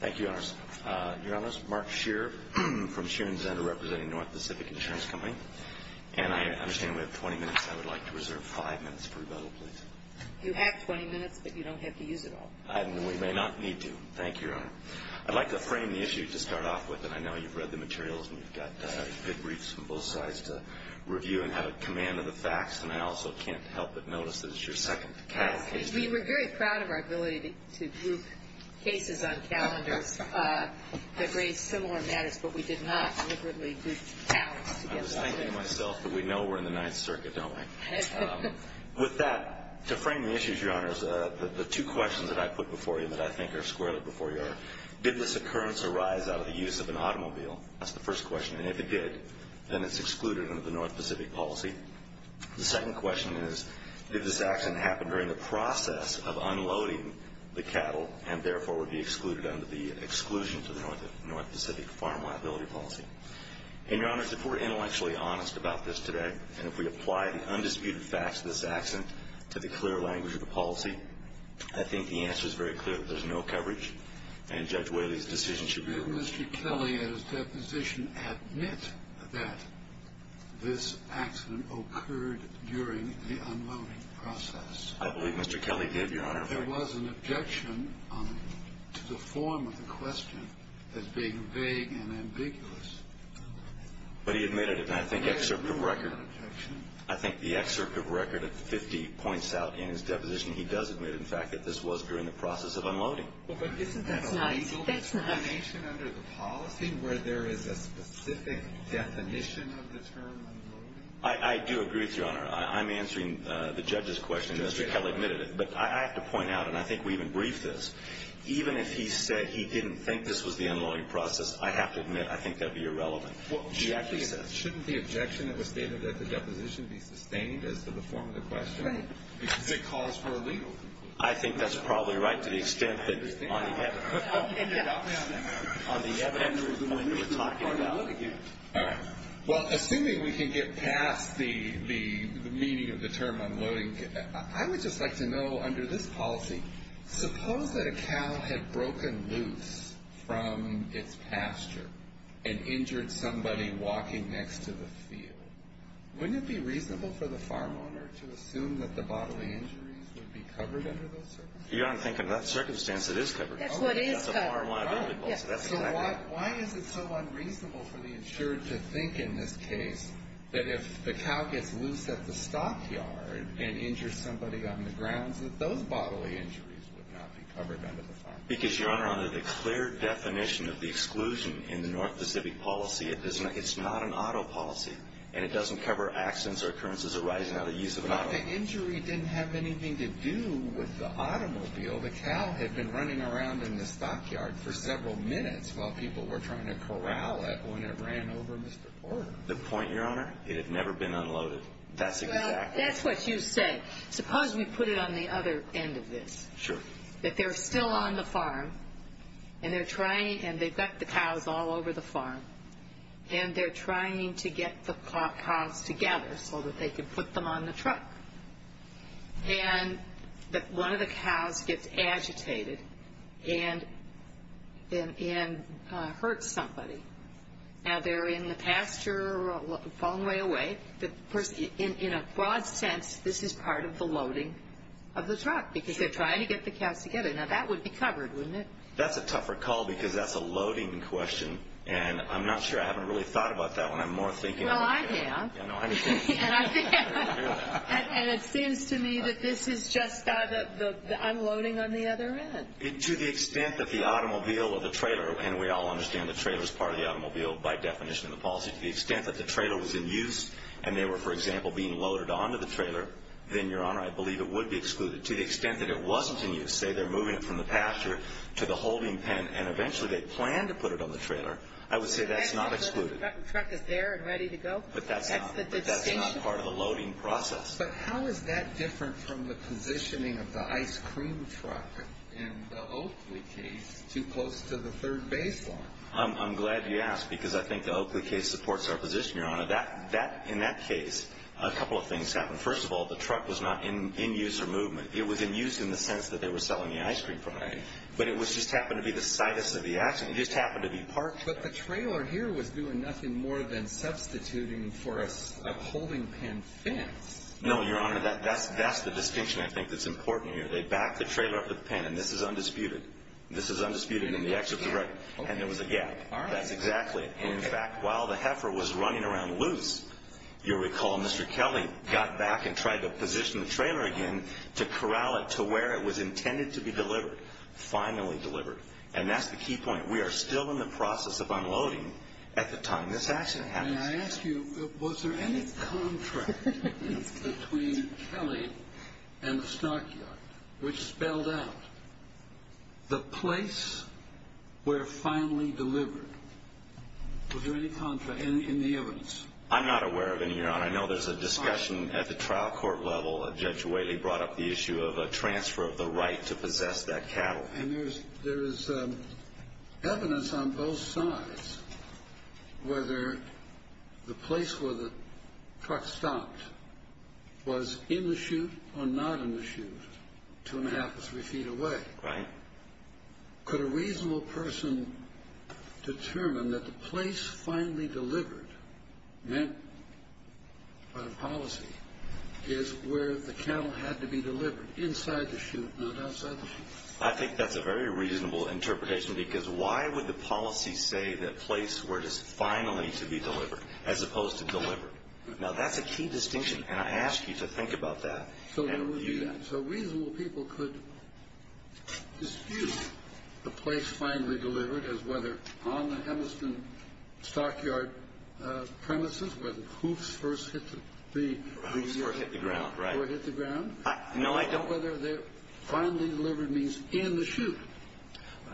Thank you, Your Honors. Your Honors, Mark Scheer from Scheer & Zender representing North Pacific Insurance Company, and I understand we have 20 minutes. I would like to reserve 5 minutes for rebuttal, please. You have 20 minutes, but you don't have to use it all. We may not need to. Thank you, Your Honor. I'd like to frame the issue to start off with, and I know you've read the materials, and we've got good briefs from both sides to review and have a command of the facts, and I also can't help but notice that it's your second case. We were very proud of our ability to group cases on calendars that raised similar matters, but we did not deliberately group talents together. I was thinking to myself that we know we're in the Ninth Circuit, don't we? With that, to frame the issues, Your Honors, the two questions that I put before you that I think are squarely before you are, did this occurrence arise out of the use of an automobile? That's the first question. And if it did, then it's excluded under the North Pacific policy. The second question is, did this accident happen during the process of unloading the cattle and, therefore, would be excluded under the exclusion to the North Pacific Farm Liability Policy? And, Your Honors, if we're intellectually honest about this today, and if we apply the undisputed facts of this accident to the clear language of the policy, I think the answer is very clear that there's no coverage, and Judge Whaley's decision should be approved. Did Mr. Kelly, at his deposition, admit that this accident occurred during the unloading process? I believe Mr. Kelly did, Your Honor. There was an objection to the form of the question as being vague and ambiguous. But he admitted it, and I think the excerpt of record at 50 points out in his deposition, he does admit, in fact, that this was during the process of unloading. Well, but isn't that a legal determination under the policy where there is a specific definition of the term unloading? I do agree with you, Your Honor. I'm answering the judge's question. Mr. Kelly admitted it. But I have to point out, and I think we even briefed this, even if he said he didn't think this was the unloading process, I have to admit I think that would be irrelevant. Well, shouldn't the objection that was stated at the deposition be sustained as to the form of the question? Right. Because it calls for a legal conclusion. I think that's probably right to the extent that on the evidence we're talking about. All right. Well, assuming we can get past the meaning of the term unloading, I would just like to know, under this policy, suppose that a cow had broken loose from its pasture and injured somebody walking next to the field. Wouldn't it be reasonable for the farm owner to assume that the bodily injuries would be covered under those circumstances? Your Honor, I'm thinking of that circumstance. It is covered. That's what is covered. So why is it so unreasonable for the insured to think in this case that if the cow gets loose at the stockyard and injures somebody on the grounds that those bodily injuries would not be covered under the farm policy? Because, Your Honor, under the clear definition of the exclusion in the North Pacific policy, it's not an auto policy. And it doesn't cover accidents or occurrences arising out of the use of an auto. But the injury didn't have anything to do with the automobile. The cow had been running around in the stockyard for several minutes while people were trying to corral it when it ran over Mr. Porter. The point, Your Honor, it had never been unloaded. That's exactly right. Well, that's what you say. Suppose we put it on the other end of this. Sure. That they're still on the farm, and they've got the cows all over the farm, and they're trying to get the cows together so that they can put them on the truck. And one of the cows gets agitated and hurts somebody. Now, they're in the pasture or a long way away. In a broad sense, this is part of the loading of the truck because they're trying to get the cows together. Now, that would be covered, wouldn't it? That's a tougher call because that's a loading question. And I'm not sure. I haven't really thought about that one. I'm more thinking. Well, I have. And it seems to me that this is just unloading on the other end. To the extent that the automobile or the trailer, and we all understand the trailer is part of the automobile by definition of the policy. But to the extent that the trailer was in use, and they were, for example, being loaded onto the trailer, then, Your Honor, I believe it would be excluded. To the extent that it wasn't in use, say they're moving it from the pasture to the holding pen, and eventually they plan to put it on the trailer, I would say that's not excluded. The truck is there and ready to go? But that's not part of the loading process. But how is that different from the positioning of the ice cream truck in the Oakley case too close to the third baseline? I'm glad you asked because I think the Oakley case supports our position, Your Honor. In that case, a couple of things happened. First of all, the truck was not in use or movement. It was in use in the sense that they were selling the ice cream product. But it just happened to be the sidest of the action. It just happened to be parked. But the trailer here was doing nothing more than substituting for a holding pen fence. No, Your Honor, that's the distinction I think that's important here. They backed the trailer up to the pen, and this is undisputed. This is undisputed in the excerpt of the record. And there was a gap. That's exactly it. In fact, while the heifer was running around loose, you'll recall Mr. Kelly got back and tried to position the trailer again to corral it to where it was intended to be delivered, finally delivered. And that's the key point. We are still in the process of unloading at the time this accident happened. May I ask you, was there any contract between Kelly and the stockyard which spelled out the place where finally delivered? Was there any contract in the evidence? I'm not aware of any, Your Honor. I know there's a discussion at the trial court level. Judge Whaley brought up the issue of a transfer of the right to possess that cattle. And there is evidence on both sides whether the place where the truck stopped was in the chute or not in the chute 2 1⁄2 to 3 feet away. Right. Could a reasonable person determine that the place finally delivered, meant by the policy, is where the cattle had to be delivered, inside the chute, not outside the chute? I think that's a very reasonable interpretation. Because why would the policy say that place where it is finally to be delivered, as opposed to delivered? Now, that's a key distinction. And I ask you to think about that. So reasonable people could dispute the place finally delivered as whether on the Henderson stockyard premises, where the hoofs first hit the ground, or hit the ground, No, I don't. whether the finally delivered means in the chute.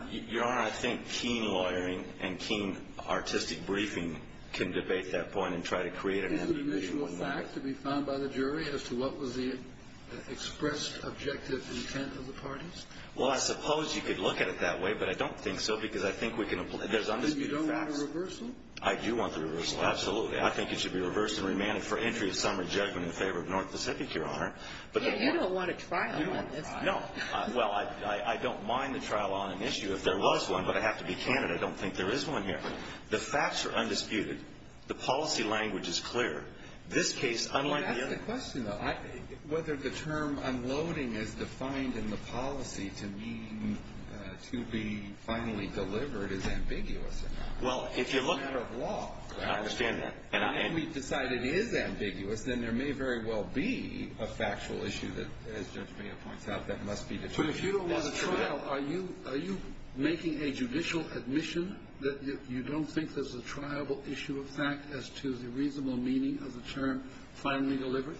Your Honor, I think keen lawyering and keen artistic briefing can debate that point and try to create an ambiguity. Is it an individual fact to be found by the jury as to what was the expressed objective intent of the parties? Well, I suppose you could look at it that way. But I don't think so, because I think there's undisputed facts. And you don't want a reversal? I do want the reversal. Absolutely. I think it should be reversed and remanded for entry of summary judgment in favor of North Pacific, Your Honor. Yeah, you don't want a trial on this. No. Well, I don't mind the trial on an issue if there was one. But I have to be candid. I don't think there is one here. The facts are undisputed. The policy language is clear. This case, unlike the other. I mean, that's the question, though. Whether the term unloading is defined in the policy to mean to be finally delivered is ambiguous. Well, if you look It's a matter of law. I understand that. And I And if we decide it is ambiguous, then there may very well be a factual issue that, as Judge Mayo points out, that must be determined. But if you don't want a trial, are you making a judicial admission that you don't think there's a triable issue of fact as to the reasonable meaning of the term finally delivered?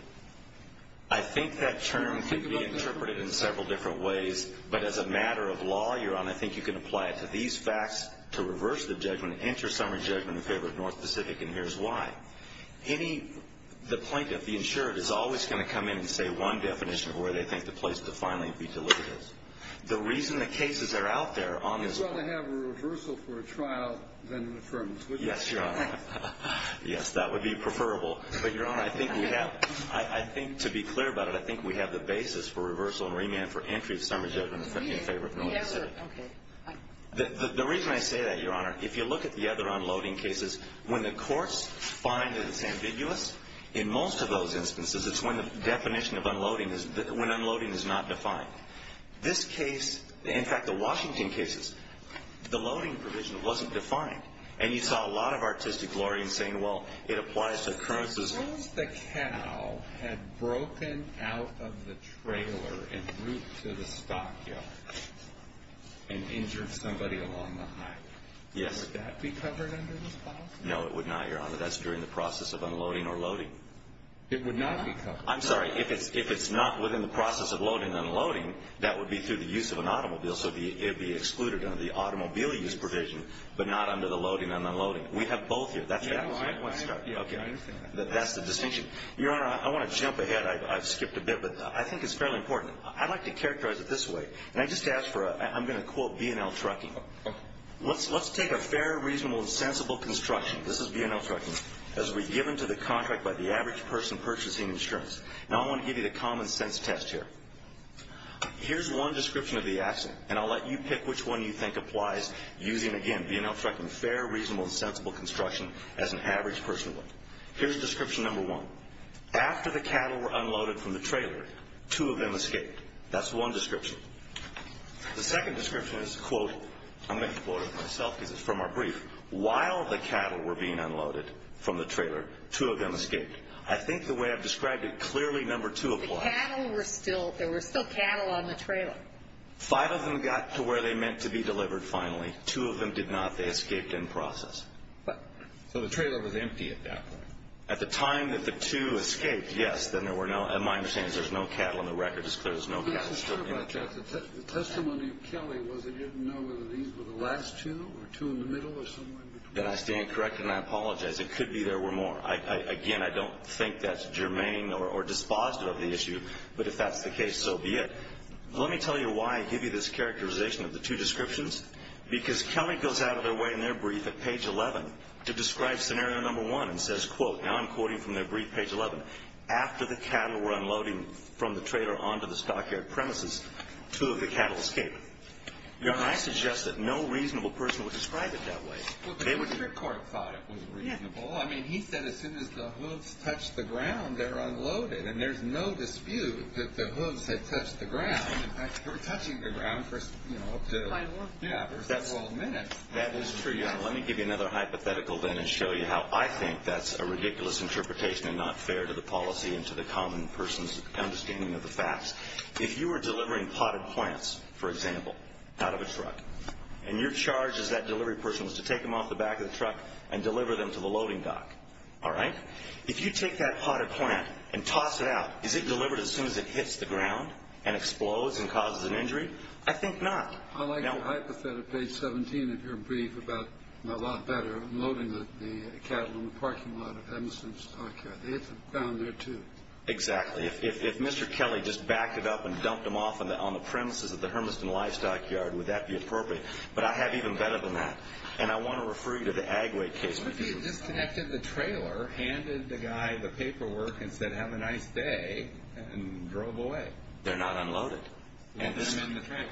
I think that term can be interpreted in several different ways. But as a matter of law, Your Honor, I think you can apply it to these facts to reverse the judgment and enter summary judgment in favor of North Pacific. And here's why. Any The plaintiff, the insured, is always going to come in and say one definition of where they think the place to finally be delivered is. The reason the cases are out there on this court You'd rather have a reversal for a trial than an affirmative. Yes, Your Honor. Yes, that would be preferable. But, Your Honor, I think we have to be clear about it. I think we have the basis for reversal and remand for entry of summary judgment in favor of North Pacific. The reason I say that, Your Honor, if you look at the other unloading cases, when the courts find that it's ambiguous, in most of those instances, it's when the definition of unloading is not defined. Now, this case, in fact, the Washington cases, the loading provision wasn't defined. And you saw a lot of artistic glory in saying, well, it applies to occurrences Suppose the cow had broken out of the trailer en route to the stockyard and injured somebody along the hike. Yes. Would that be covered under this policy? No, it would not, Your Honor. That's during the process of unloading or loading. It would not be covered. I'm sorry. If it's not within the process of loading and unloading, that would be through the use of an automobile. So it would be excluded under the automobile use provision, but not under the loading and unloading. We have both here. That's the distinction. Your Honor, I want to jump ahead. I've skipped a bit. But I think it's fairly important. I'd like to characterize it this way. And I'm going to quote B&L Trucking. Let's take a fair, reasonable, and sensible construction. This is B&L Trucking. As we've given to the contract by the average person purchasing insurance. Now I want to give you the common sense test here. Here's one description of the accident. And I'll let you pick which one you think applies using, again, B&L Trucking, fair, reasonable, and sensible construction as an average person would. Here's description number one. After the cattle were unloaded from the trailer, two of them escaped. That's one description. The second description is, quote, I'm going to quote it myself because it's from our brief. While the cattle were being unloaded from the trailer, two of them escaped. I think the way I've described it clearly number two applies. The cattle were still ñ there were still cattle on the trailer. Five of them got to where they meant to be delivered finally. Two of them did not. They escaped in process. So the trailer was empty at that point. At the time that the two escaped, yes. Then there were no ñ my understanding is there's no cattle in the record. It's clear there's no cattle still in the trailer. The testimony of Kelly was that you didn't know whether these were the last two or two in the middle or somewhere in between. I stand corrected, and I apologize. It could be there were more. Again, I don't think that's germane or dispositive of the issue. But if that's the case, so be it. Let me tell you why I give you this characterization of the two descriptions. Because Kelly goes out of their way in their brief at page 11 to describe scenario number one and says, quote, Now I'm quoting from their brief, page 11. After the cattle were unloading from the trailer onto the stockyard premises, two of the cattle escaped. Your Honor, I suggest that no reasonable person would describe it that way. Well, the district court thought it was reasonable. I mean, he said as soon as the hooves touched the ground, they're unloaded. And there's no dispute that the hooves had touched the ground. In fact, they were touching the ground for, you know, up to ñ Yeah, for 12 minutes. That is true, Your Honor. All right, let me give you another hypothetical then and show you how I think that's a ridiculous interpretation and not fair to the policy and to the common person's understanding of the facts. If you were delivering potted plants, for example, out of a truck, and your charge as that delivery person was to take them off the back of the truck and deliver them to the loading dock, all right? If you take that potted plant and toss it out, is it delivered as soon as it hits the ground and explodes and causes an injury? I think not. I like the hypothet of page 17 of your brief about a lot better unloading the cattle in the parking lot of the Hermiston Livestock Yard. They hit the ground there too. Exactly. If Mr. Kelly just backed it up and dumped them off on the premises of the Hermiston Livestock Yard, would that be appropriate? But I have even better than that. And I want to refer you to the Agway case. What if you just connected the trailer, handed the guy the paperwork, and said, have a nice day, and drove away? They're not unloaded. And they're in the trailer.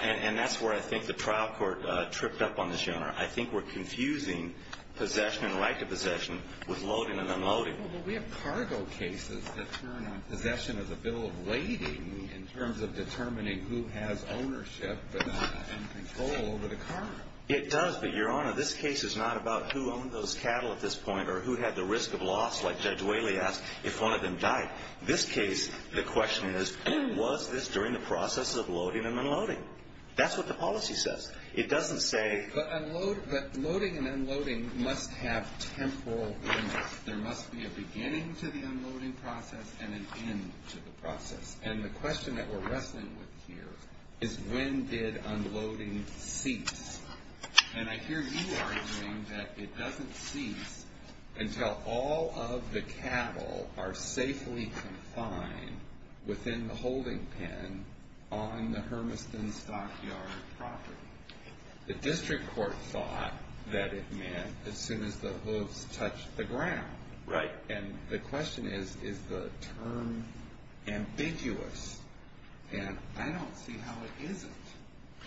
And that's where I think the trial court tripped up on this, Your Honor. I think we're confusing possession and right to possession with loading and unloading. Well, but we have cargo cases that turn on possession as a bill of lading in terms of determining who has ownership and control over the car. It does, but, Your Honor, this case is not about who owned those cattle at this point or who had the risk of loss, like Judge Whaley asked, if one of them died. This case, the question is, was this during the process of loading and unloading? That's what the policy says. It doesn't say – But loading and unloading must have temporal limits. There must be a beginning to the unloading process and an end to the process. And the question that we're wrestling with here is when did unloading cease? And I hear you arguing that it doesn't cease until all of the cattle are safely confined within the holding pen on the Hermiston Stockyard property. The district court thought that it meant as soon as the hooves touched the ground. Right. And the question is, is the term ambiguous? And I don't see how it isn't,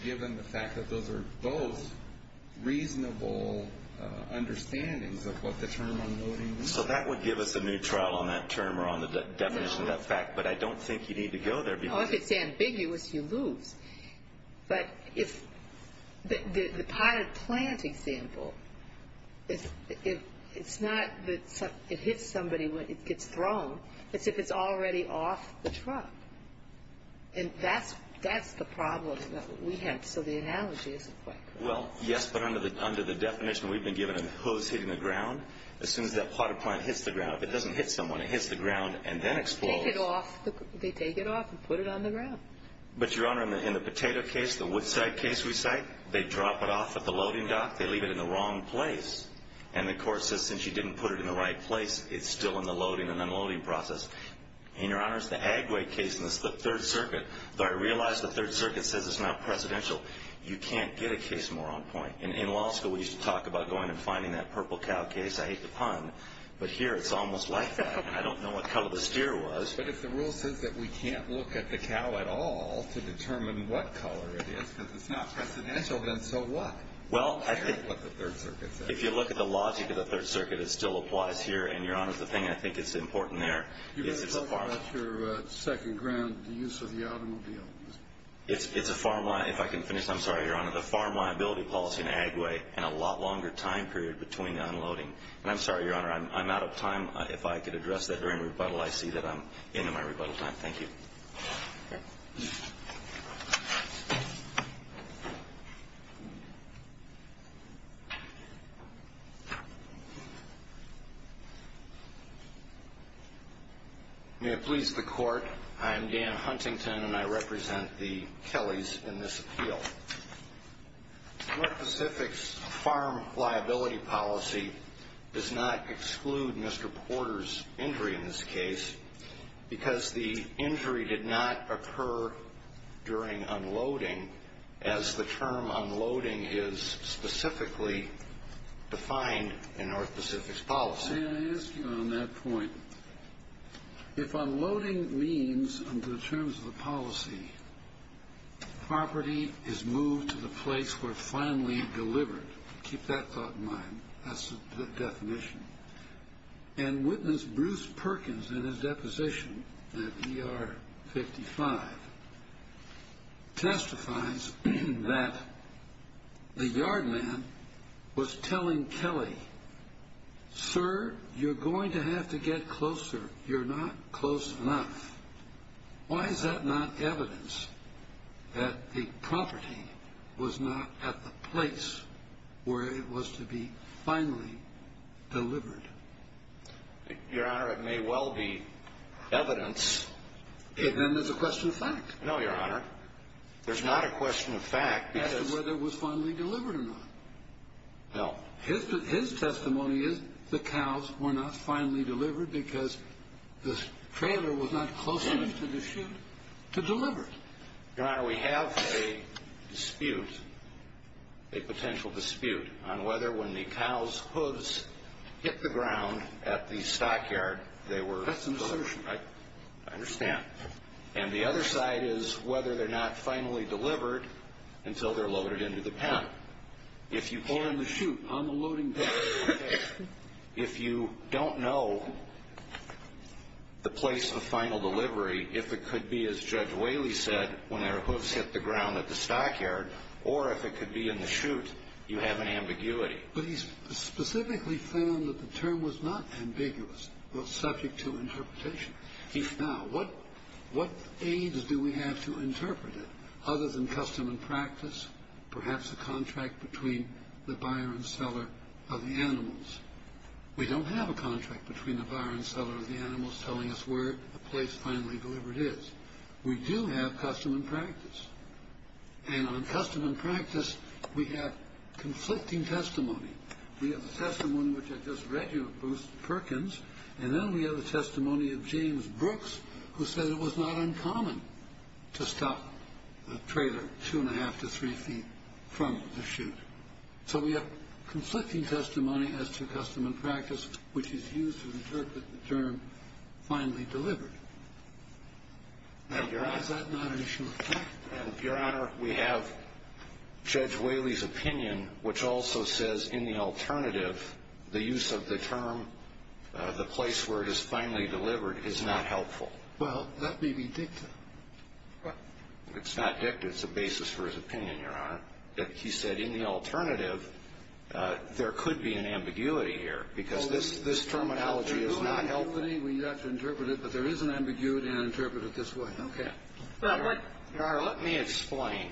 given the fact that those are both reasonable understandings of what the term unloading means. So that would give us a neutral on that term or on the definition of that fact, but I don't think you need to go there because – But if – the potted plant example, it's not that it hits somebody when it gets thrown. It's if it's already off the truck. And that's the problem that we have. So the analogy isn't quite correct. Well, yes, but under the definition we've been given of the hooves hitting the ground, as soon as that potted plant hits the ground, if it doesn't hit someone, it hits the ground and then explodes. Take it off. They take it off and put it on the ground. But, Your Honor, in the potato case, the Woodside case we cite, they drop it off at the loading dock. They leave it in the wrong place. And the court says since you didn't put it in the right place, it's still in the loading and unloading process. And, Your Honor, it's the Agway case in the Third Circuit. Though I realize the Third Circuit says it's not presidential, you can't get a case more on point. In law school, we used to talk about going and finding that purple cow case. I hate the pun, but here it's almost like that. I don't know what color the steer was. But if the rule says that we can't look at the cow at all to determine what color it is, because it's not presidential, then so what? Well, I think what the Third Circuit says. If you look at the logic of the Third Circuit, it still applies here. And, Your Honor, the thing I think is important there is it's a farm. Can you talk about your second ground, the use of the automobile? It's a farm, if I can finish. I'm sorry, Your Honor. The farm liability policy in Agway and a lot longer time period between unloading. And I'm sorry, Your Honor, I'm out of time. If I could address that during rebuttal, I see that I'm into my rebuttal time. Thank you. May it please the Court, I am Dan Huntington, and I represent the Kellys in this appeal. North Pacific's farm liability policy does not exclude Mr. Porter's injury in this case because the injury did not occur during unloading, as the term unloading is specifically defined in North Pacific's policy. May I ask you on that point, if unloading means, under the terms of the policy, property is moved to the place where it's finally delivered, keep that thought in mind, that's the definition, and witness Bruce Perkins in his deposition at ER 55, testifies that the yard man was telling Kelly, sir, you're going to have to get closer. You're not close enough. Why is that not evidence that the property was not at the place where it was to be finally delivered? Your Honor, it may well be evidence. Then there's a question of fact. No, Your Honor. There's not a question of fact as to whether it was finally delivered or not. No. His testimony is the cows were not finally delivered because the trailer was not close enough to the chute to deliver it. Your Honor, we have a dispute, a potential dispute, on whether when the cows' hooves hit the ground at the stockyard they were loaded. That's an assertion. I understand. And the other side is whether they're not finally delivered until they're loaded into the pen. Or in the chute on the loading pen. If you don't know the place of final delivery, if it could be, as Judge Whaley said, when their hooves hit the ground at the stockyard, or if it could be in the chute, you have an ambiguity. But he specifically found that the term was not ambiguous. It was subject to interpretation. Now, what aids do we have to interpret it other than custom and practice, perhaps a contract between the buyer and seller of the animals? We don't have a contract between the buyer and seller of the animals telling us where a place finally delivered is. We do have custom and practice. And on custom and practice, we have conflicting testimony. We have the testimony which I just read you of Bruce Perkins, and then we have the testimony of James Brooks, who said it was not uncommon to stop a trailer 2 1⁄2 to 3 feet from the chute. So we have conflicting testimony as to custom and practice, which is used to interpret the term finally delivered. Now, is that not an issue? Your Honor, we have Judge Whaley's opinion, which also says in the alternative the use of the term the place where it is finally delivered is not helpful. Well, that may be dicta. It's not dicta. It's a basis for his opinion, Your Honor. He said in the alternative there could be an ambiguity here because this terminology is not helpful. We have to interpret it, but there is an ambiguity, and I interpret it this way. Okay. Your Honor, let me explain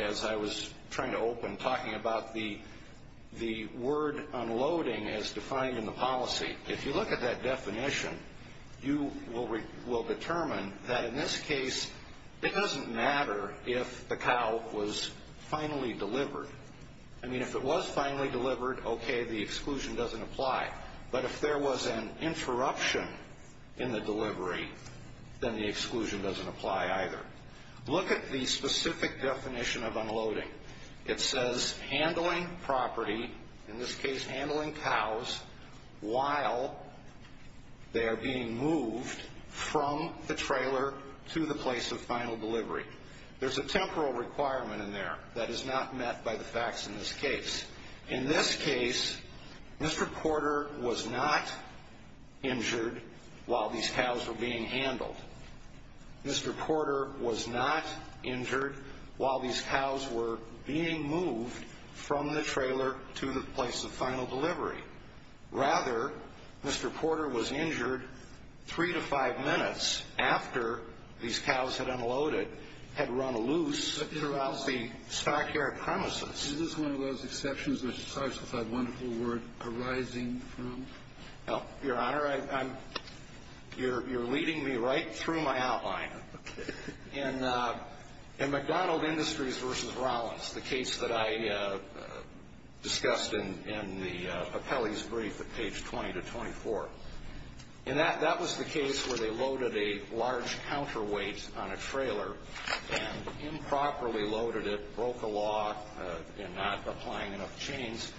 as I was trying to open, talking about the word unloading as defined in the policy. If you look at that definition, you will determine that in this case, it doesn't matter if the cow was finally delivered. I mean, if it was finally delivered, okay, the exclusion doesn't apply. But if there was an interruption in the delivery, then the exclusion doesn't apply either. Look at the specific definition of unloading. It says handling property, in this case handling cows, while they are being moved from the trailer to the place of final delivery. There's a temporal requirement in there that is not met by the facts in this case. In this case, Mr. Porter was not injured while these cows were being handled. Mr. Porter was not injured while these cows were being moved from the trailer to the place of final delivery. Rather, Mr. Porter was injured three to five minutes after these cows had unloaded, had run loose throughout the stockyard premises. Is this one of those exceptions, which I'm sorry, since I have wonderful word arising from? Your Honor, you're leading me right through my outline. Okay. In McDonald Industries v. Rollins, the case that I discussed in the appellee's brief at page 20 to 24, that was the case where they loaded a large counterweight on a trailer and improperly loaded it, broke the law in not applying enough chains,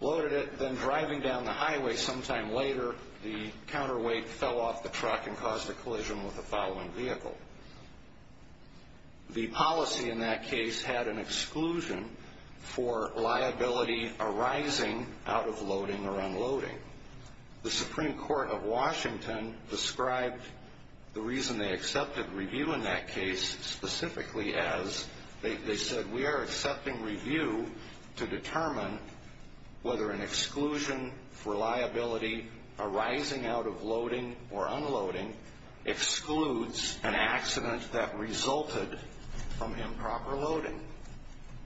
loaded it, then driving down the highway sometime later, the counterweight fell off the truck and caused a collision with the following vehicle. The policy in that case had an exclusion for liability arising out of loading or unloading. The Supreme Court of Washington described the reason they accepted review in that case specifically as they said, we are accepting review to determine whether an exclusion for liability arising out of loading or unloading excludes an accident that resulted from improper loading.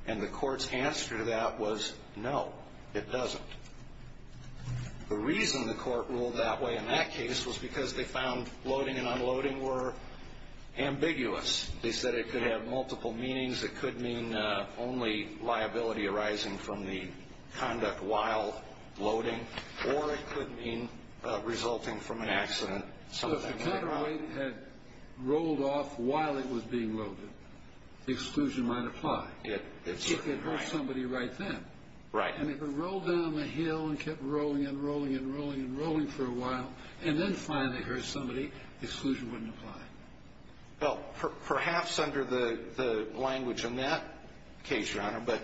And the court's answer to that was no, it doesn't. The reason the court ruled that way in that case was because they found loading and unloading were ambiguous. They said it could have multiple meanings. It could mean only liability arising from the conduct while loading, or it could mean resulting from an accident. So if the counterweight had rolled off while it was being loaded, the exclusion might apply. It certainly might. If it hit somebody right then. Right. And if it rolled down the hill and kept rolling and rolling and rolling and rolling for a while and then finally hit somebody, the exclusion wouldn't apply. Well, perhaps under the language in that case, Your Honor, but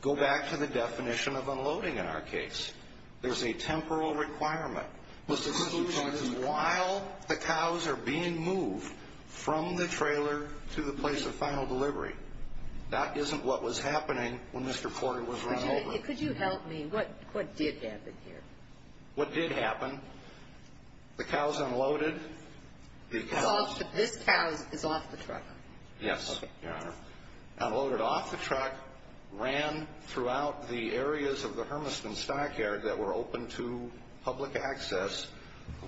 go back to the definition of unloading in our case. There's a temporal requirement. The exclusion is while the cows are being moved from the trailer to the place of final delivery. Could you help me? What did happen here? What did happen? The cows unloaded. This cow is off the truck? Yes, Your Honor. Unloaded off the truck, ran throughout the areas of the Hermiston stockyard that were open to public access,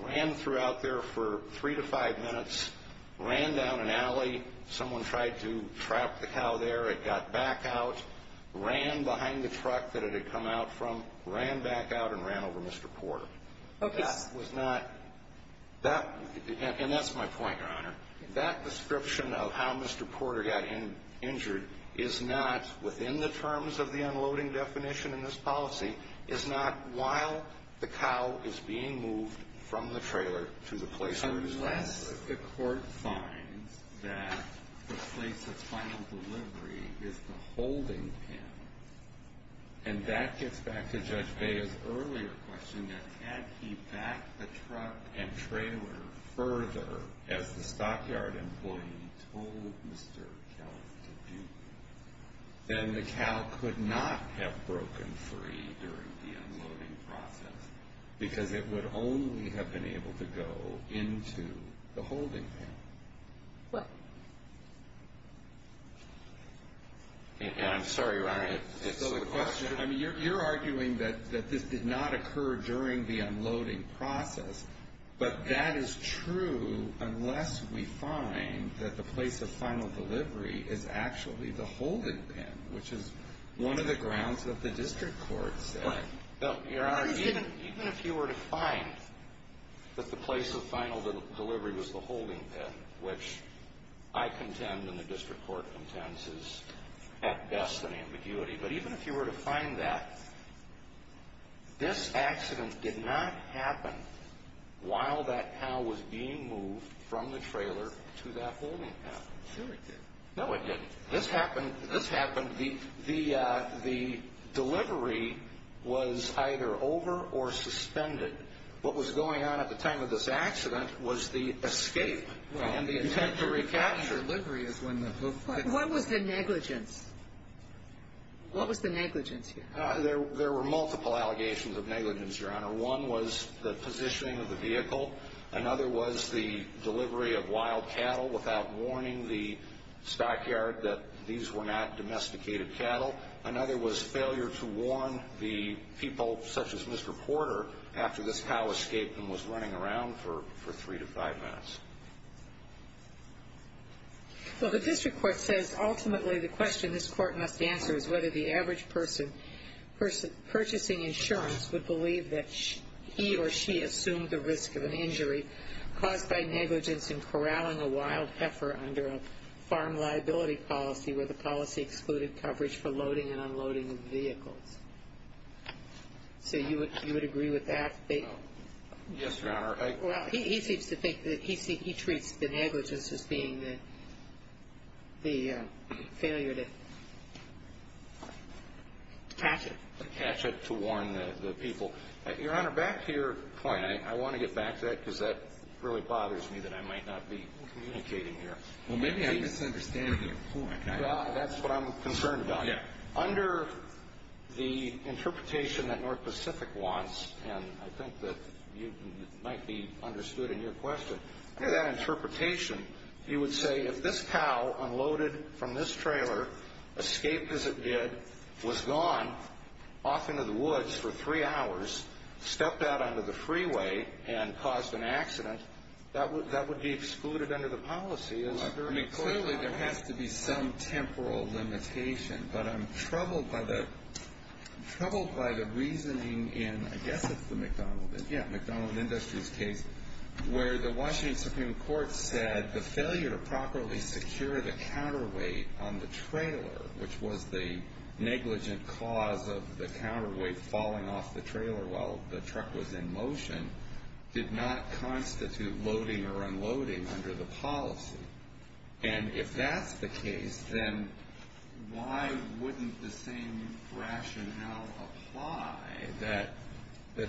ran throughout there for three to five minutes, ran down an alley. Someone tried to trap the cow there. It got back out, ran behind the truck that it had come out from, ran back out, and ran over Mr. Porter. Okay. And that's my point, Your Honor. That description of how Mr. Porter got injured is not within the terms of the unloading definition in this policy, is not while the cow is being moved from the trailer to the place of final delivery. It's the holding panel. And that gets back to Judge Bea's earlier question that had he backed the truck and trailer further, as the stockyard employee told Mr. Kelf to do, then the cow could not have broken free during the unloading process because it would only have been able to go into the holding panel. What? I'm sorry, Your Honor. It's the question. I mean, you're arguing that this did not occur during the unloading process, but that is true unless we find that the place of final delivery is actually the holding panel, which is one of the grounds that the district court said. Your Honor, even if you were to find that the place of final delivery was the holding panel, which I contend and the district court contends is at best an ambiguity, but even if you were to find that, this accident did not happen while that cow was being moved from the trailer to that holding panel. Sure it did. No, it didn't. This happened. The delivery was either over or suspended. What was going on at the time of this accident was the escape and the attempt to recapture. The delivery is when the hoof hit. What was the negligence? What was the negligence here? There were multiple allegations of negligence, Your Honor. One was the positioning of the vehicle. Another was the delivery of wild cattle without warning the stockyard that these were not domesticated cattle. Another was failure to warn the people, such as Mr. Porter, after this cow escaped and was running around for three to five minutes. Well, the district court says ultimately the question this court must answer is whether the average person purchasing insurance would believe that he or she assumed the risk of an injury caused by negligence in corralling a wild heifer under a farm liability policy where the policy excluded coverage for loading and unloading of vehicles. So you would agree with that? Yes, Your Honor. Well, he seems to think that he treats the negligence as being the failure to catch it. Catch it to warn the people. Your Honor, back to your point. I want to get back to that because that really bothers me that I might not be communicating here. Well, maybe I'm misunderstanding your point. Well, that's what I'm concerned about. Under the interpretation that North Pacific wants, and I think that it might be understood in your question, under that interpretation you would say if this cow unloaded from this trailer, escaped as it did, was gone off into the woods for three hours, stepped out onto the freeway and caused an accident, that would be excluded under the policy. Clearly there has to be some temporal limitation, but I'm troubled by the reasoning in, I guess it's the McDonald Industries case, where the Washington Supreme Court said the failure to properly secure the counterweight on the trailer, which was the negligent cause of the counterweight falling off the trailer while the truck was in motion, did not constitute loading or unloading under the policy. And if that's the case, then why wouldn't the same rationale apply that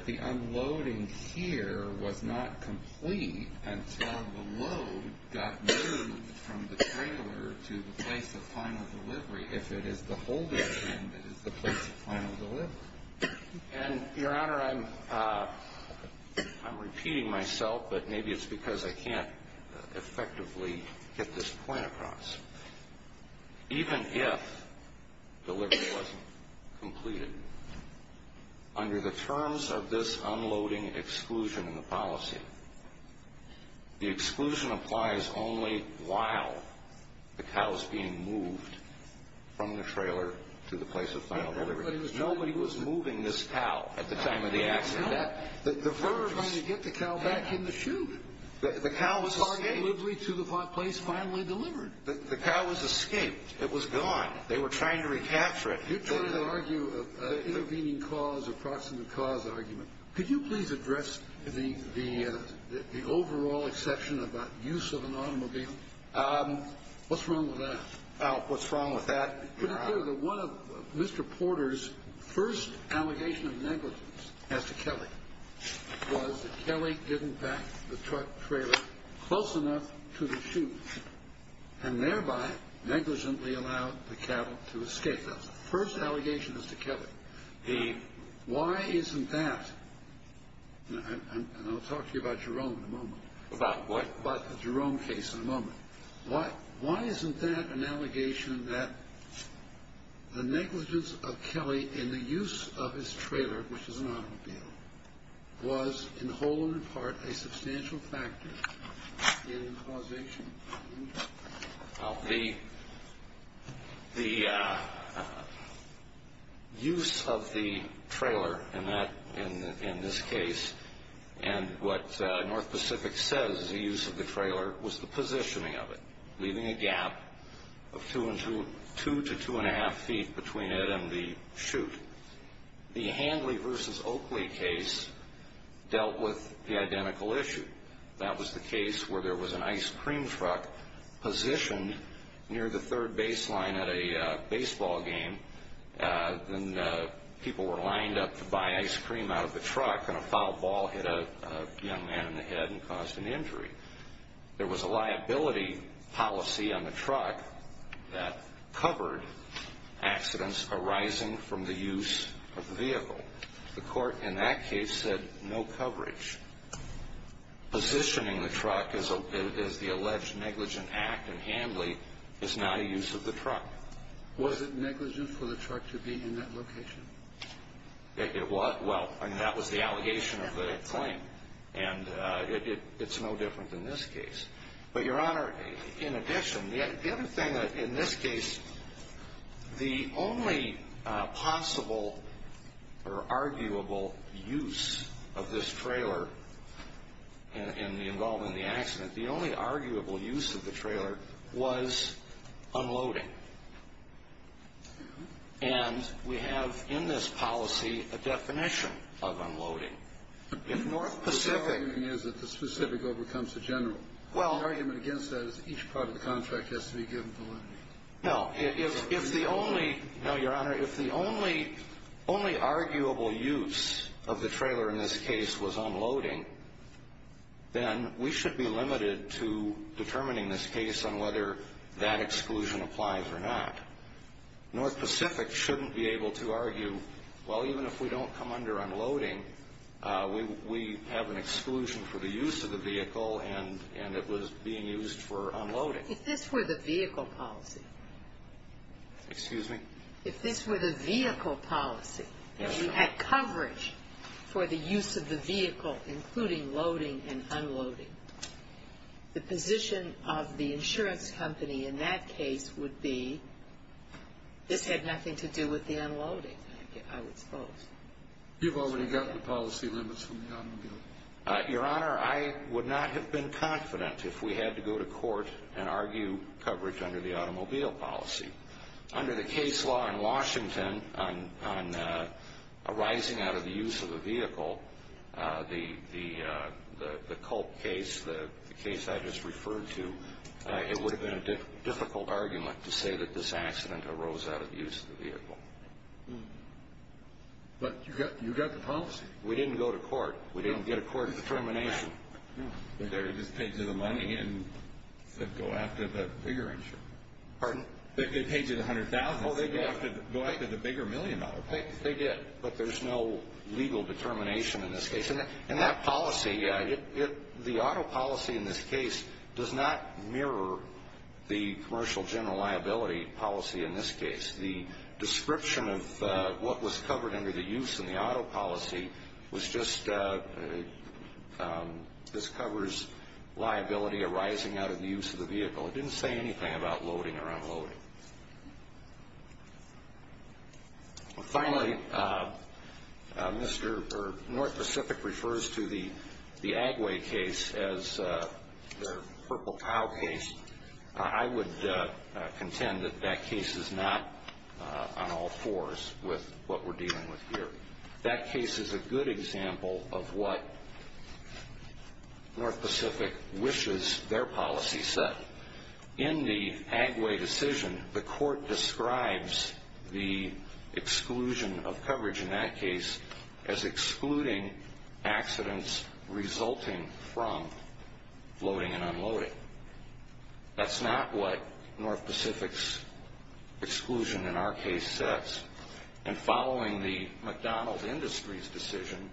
the unloading here was not complete until the load got moved from the trailer to the place of final delivery, if it is the holding that is the place of final delivery? Your Honor, I'm repeating myself, but maybe it's because I can't effectively get this point across. Even if delivery wasn't completed, under the terms of this unloading exclusion in the policy, the exclusion applies only while the cow is being moved from the trailer to the place of final delivery. Nobody was moving this cow at the time of the accident. We were trying to get the cow back in the chute. The cow was escaped. To the place finally delivered. The cow was escaped. It was gone. They were trying to recapture it. You're trying to argue an intervening cause or proximate cause argument. Could you please address the overall exception about use of an automobile? What's wrong with that? What's wrong with that? Mr. Porter's first allegation of negligence as to Kelly was that Kelly didn't back the truck trailer close enough to the chute and thereby negligently allowed the cattle to escape. That's the first allegation as to Kelly. Why isn't that? And I'll talk to you about Jerome in a moment. About what? About the Jerome case in a moment. Why isn't that an allegation that the negligence of Kelly in the use of his trailer, which is an automobile, was in whole and in part a substantial factor in causation? The use of the trailer in this case and what North Pacific says is the use of the trailer was the positioning of it, leaving a gap of 2 to 2 1⁄2 feet between it and the chute. The Handley v. Oakley case dealt with the identical issue. That was the case where there was an ice cream truck positioned near the third baseline at a baseball game, and people were lined up to buy ice cream out of the truck, and a foul ball hit a young man in the head and caused an injury. There was a liability policy on the truck that covered accidents arising from the use of the vehicle. The court in that case said no coverage. Positioning the truck as the alleged negligent act in Handley is not a use of the truck. Was it negligent for the truck to be in that location? It was. Well, I mean, that was the allegation of the claim, and it's no different in this case. But, Your Honor, in addition, the other thing in this case, the only possible or arguable use of this trailer in the involvement of the accident, the only arguable use of the trailer was unloading, and we have in this policy a definition of unloading. The only argument is that the specific overcomes the general. The argument against that is each part of the contract has to be given validity. No, Your Honor, if the only arguable use of the trailer in this case was unloading, then we should be limited to determining this case on whether that exclusion applies or not. North Pacific shouldn't be able to argue, well, even if we don't come under unloading, we have an exclusion for the use of the vehicle, and it was being used for unloading. If this were the vehicle policy. Excuse me? If this were the vehicle policy, if we had coverage for the use of the vehicle, including loading and unloading, the position of the insurance company in that case would be this had nothing to do with the unloading, I would suppose. You've already gotten the policy limits from the automobile. Your Honor, I would not have been confident if we had to go to court and argue coverage under the automobile policy. Under the case law in Washington on arising out of the use of the vehicle, the Culp case, the case I just referred to, it would have been a difficult argument to say that this accident arose out of use of the vehicle. But you got the policy. We didn't go to court. We didn't get a court determination. They just paid you the money and said go after the bigger insurance. Pardon? They paid you the $100,000 and said go after the bigger million dollar policy. They did, but there's no legal determination in this case. And that policy, the auto policy in this case does not mirror the commercial general liability policy in this case. The description of what was covered under the use in the auto policy was just this covers liability arising out of the use of the vehicle. It didn't say anything about loading or unloading. Finally, North Pacific refers to the Agway case as their purple cow case. I would contend that that case is not on all fours with what we're dealing with here. That case is a good example of what North Pacific wishes their policy said. In the Agway decision, the court describes the exclusion of coverage in that case as excluding accidents resulting from loading and unloading. That's not what North Pacific's exclusion in our case says. And following the McDonald Industries decision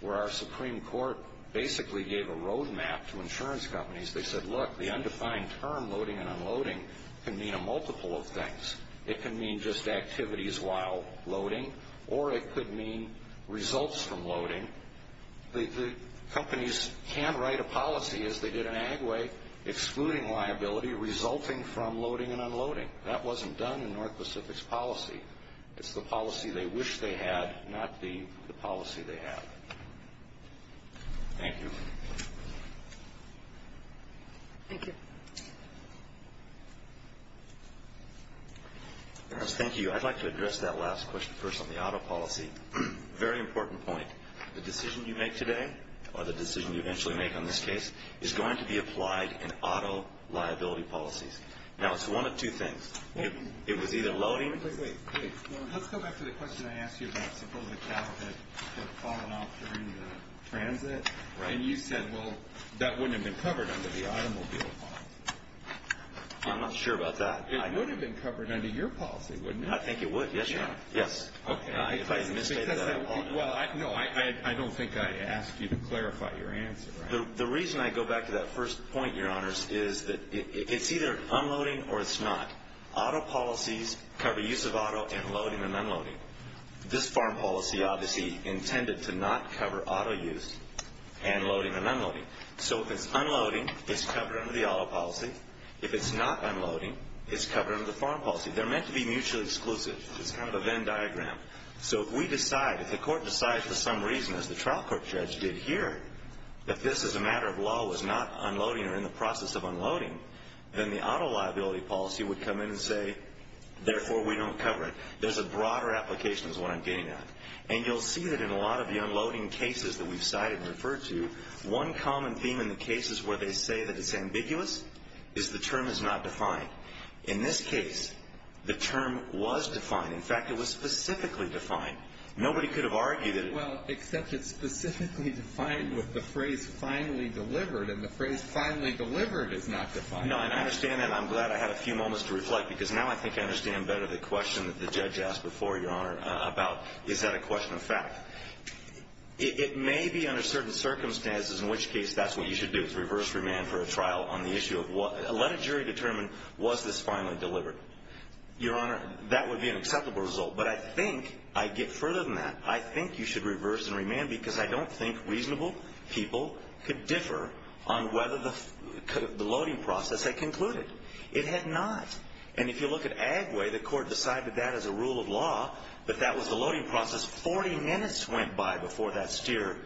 where our Supreme Court basically gave a road map to insurance companies, they said look, the undefined term loading and unloading can mean a multiple of things. It can mean just activities while loading or it could mean results from loading. The companies can write a policy as they did in Agway excluding liability resulting from loading and unloading. That wasn't done in North Pacific's policy. It's the policy they wish they had, not the policy they have. Thank you. Thank you. Thank you. I'd like to address that last question first on the auto policy. Very important point. The decision you make today or the decision you eventually make on this case is going to be applied in auto liability policies. Now, it's one of two things. It was either loading. Wait, wait, wait. Let's go back to the question I asked you about supposedly cow that had fallen off during the transit. And you said, well, that wouldn't have been covered under the automobile law. I'm not sure about that. It would have been covered under your policy, wouldn't it? I think it would. Yes, Your Honor. Yes. Okay. If I misstated that. No, I don't think I asked you to clarify your answer. The reason I go back to that first point, Your Honors, is that it's either unloading or it's not. Auto policies cover use of auto and loading and unloading. This farm policy obviously intended to not cover auto use and loading and unloading. So if it's unloading, it's covered under the auto policy. If it's not unloading, it's covered under the farm policy. They're meant to be mutually exclusive. It's kind of a Venn diagram. So if we decide, if the court decides for some reason, as the trial court judge did here, that this is a matter of law was not unloading or in the process of unloading, then the auto liability policy would come in and say, therefore, we don't cover it. There's a broader application is what I'm getting at. And you'll see that in a lot of the unloading cases that we've cited and referred to, one common theme in the cases where they say that it's ambiguous is the term is not defined. In this case, the term was defined. In fact, it was specifically defined. Nobody could have argued it. Well, except it's specifically defined with the phrase finally delivered, and the phrase finally delivered is not defined. No, and I understand that, and I'm glad I had a few moments to reflect, because now I think I understand better the question that the judge asked before, Your Honor, about is that a question of fact. It may be under certain circumstances, in which case that's what you should do, is reverse remand for a trial on the issue of let a jury determine was this finally delivered. Your Honor, that would be an acceptable result, but I think I'd get further than that. I think you should reverse and remand because I don't think reasonable people could differ on whether the loading process had concluded. It had not. And if you look at Agway, the court decided that as a rule of law, but that was the loading process 40 minutes went by before that steer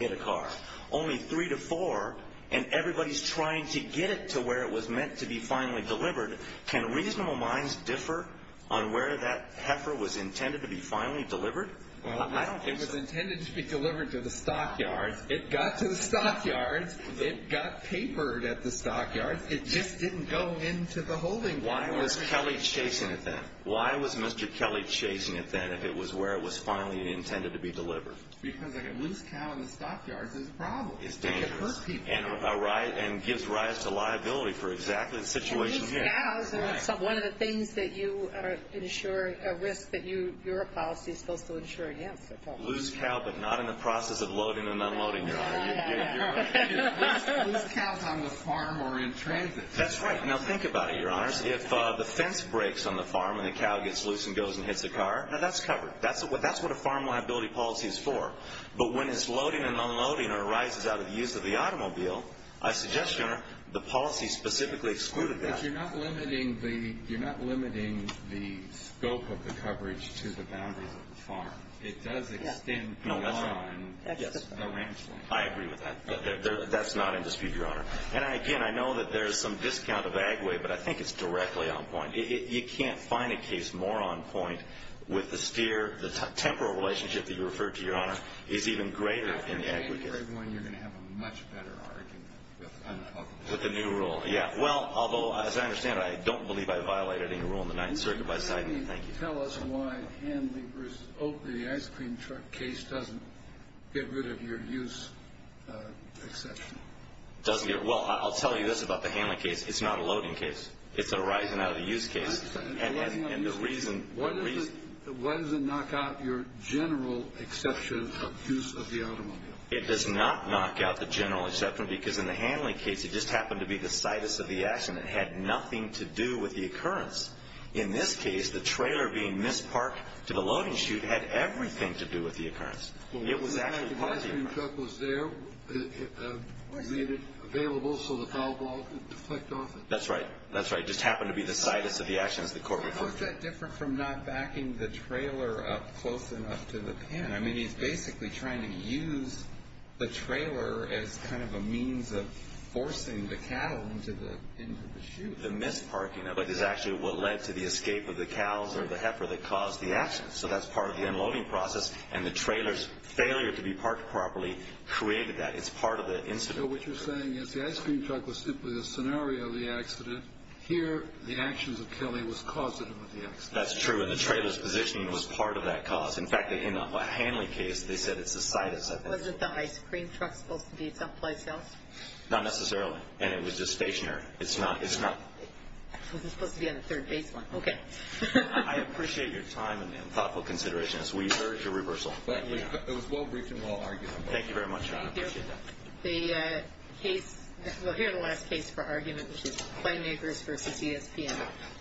hit a car, only three to four, and everybody's trying to get it to where it was meant to be finally delivered. Can reasonable minds differ on where that heifer was intended to be finally delivered? Well, I don't think so. It was intended to be delivered to the stockyard. It got to the stockyard. It got papered at the stockyard. It just didn't go into the holding gallery. Why was Kelly chasing it then? Why was Mr. Kelly chasing it then if it was where it was finally intended to be delivered? Because a loose cow in the stockyard is a problem. It's dangerous. It could hurt people. And gives rise to liability for exactly the situation here. Loose cows are one of the things that you are ensuring a risk that your policy is supposed to ensure against. Loose cow but not in the process of loading and unloading, Your Honor. Loose cows on the farm or in transit. That's right. Now think about it, Your Honors. If the fence breaks on the farm and the cow gets loose and goes and hits the car, now that's covered. That's what a farm liability policy is for. But when it's loading and unloading or rises out of the use of the automobile, I suggest, Your Honor, the policy specifically excluded that. But you're not limiting the scope of the coverage to the boundaries of the farm. It does extend beyond the ranch land. I agree with that. But that's not in dispute, Your Honor. And, again, I know that there's some discount of Agway, but I think it's directly on point. You can't find a case more on point with the sphere, the temporal relationship that you referred to, Your Honor, is even greater in the Agway case. I'm afraid, Wayne, you're going to have a much better argument with the new rule. Yeah. Well, although, as I understand it, I don't believe I violated any rule in the Ninth Circuit by citing it. Can you tell us why Hanley versus Oakley, the ice cream truck case, doesn't get rid of your use exception? Well, I'll tell you this about the Hanley case. It's not a loading case. It's a rising out of the use case. And the reason. Why does it knock out your general exception of use of the automobile? It does not knock out the general exception because, in the Hanley case, it just happened to be the situs of the action. It had nothing to do with the occurrence. In this case, the trailer being misparked to the loading chute had everything to do with the occurrence. It was actually part of the occurrence. The ice cream truck was there, made it available so the foul ball could deflect off it. That's right. That's right. It just happened to be the situs of the action, as the court recorded. I mean, he's basically trying to use the trailer as kind of a means of forcing the cattle into the chute. The misparking of it is actually what led to the escape of the cows or the heifer that caused the accident. So that's part of the unloading process. And the trailer's failure to be parked properly created that. It's part of the incident. So what you're saying is the ice cream truck was simply a scenario of the accident. Here, the actions of Kelly was causative of the accident. That's true. And the trailer's positioning was part of that cause. In fact, in the Hanley case, they said it's the situs, I think. Wasn't the ice cream truck supposed to be someplace else? Not necessarily. And it was just stationary. It's not. It wasn't supposed to be on the third basement. Okay. I appreciate your time and thoughtful consideration as we urge a reversal. It was well briefed and well argued. Thank you very much. I appreciate that. The case, well, here's the last case for argument, which is Claymakers v. ESPN.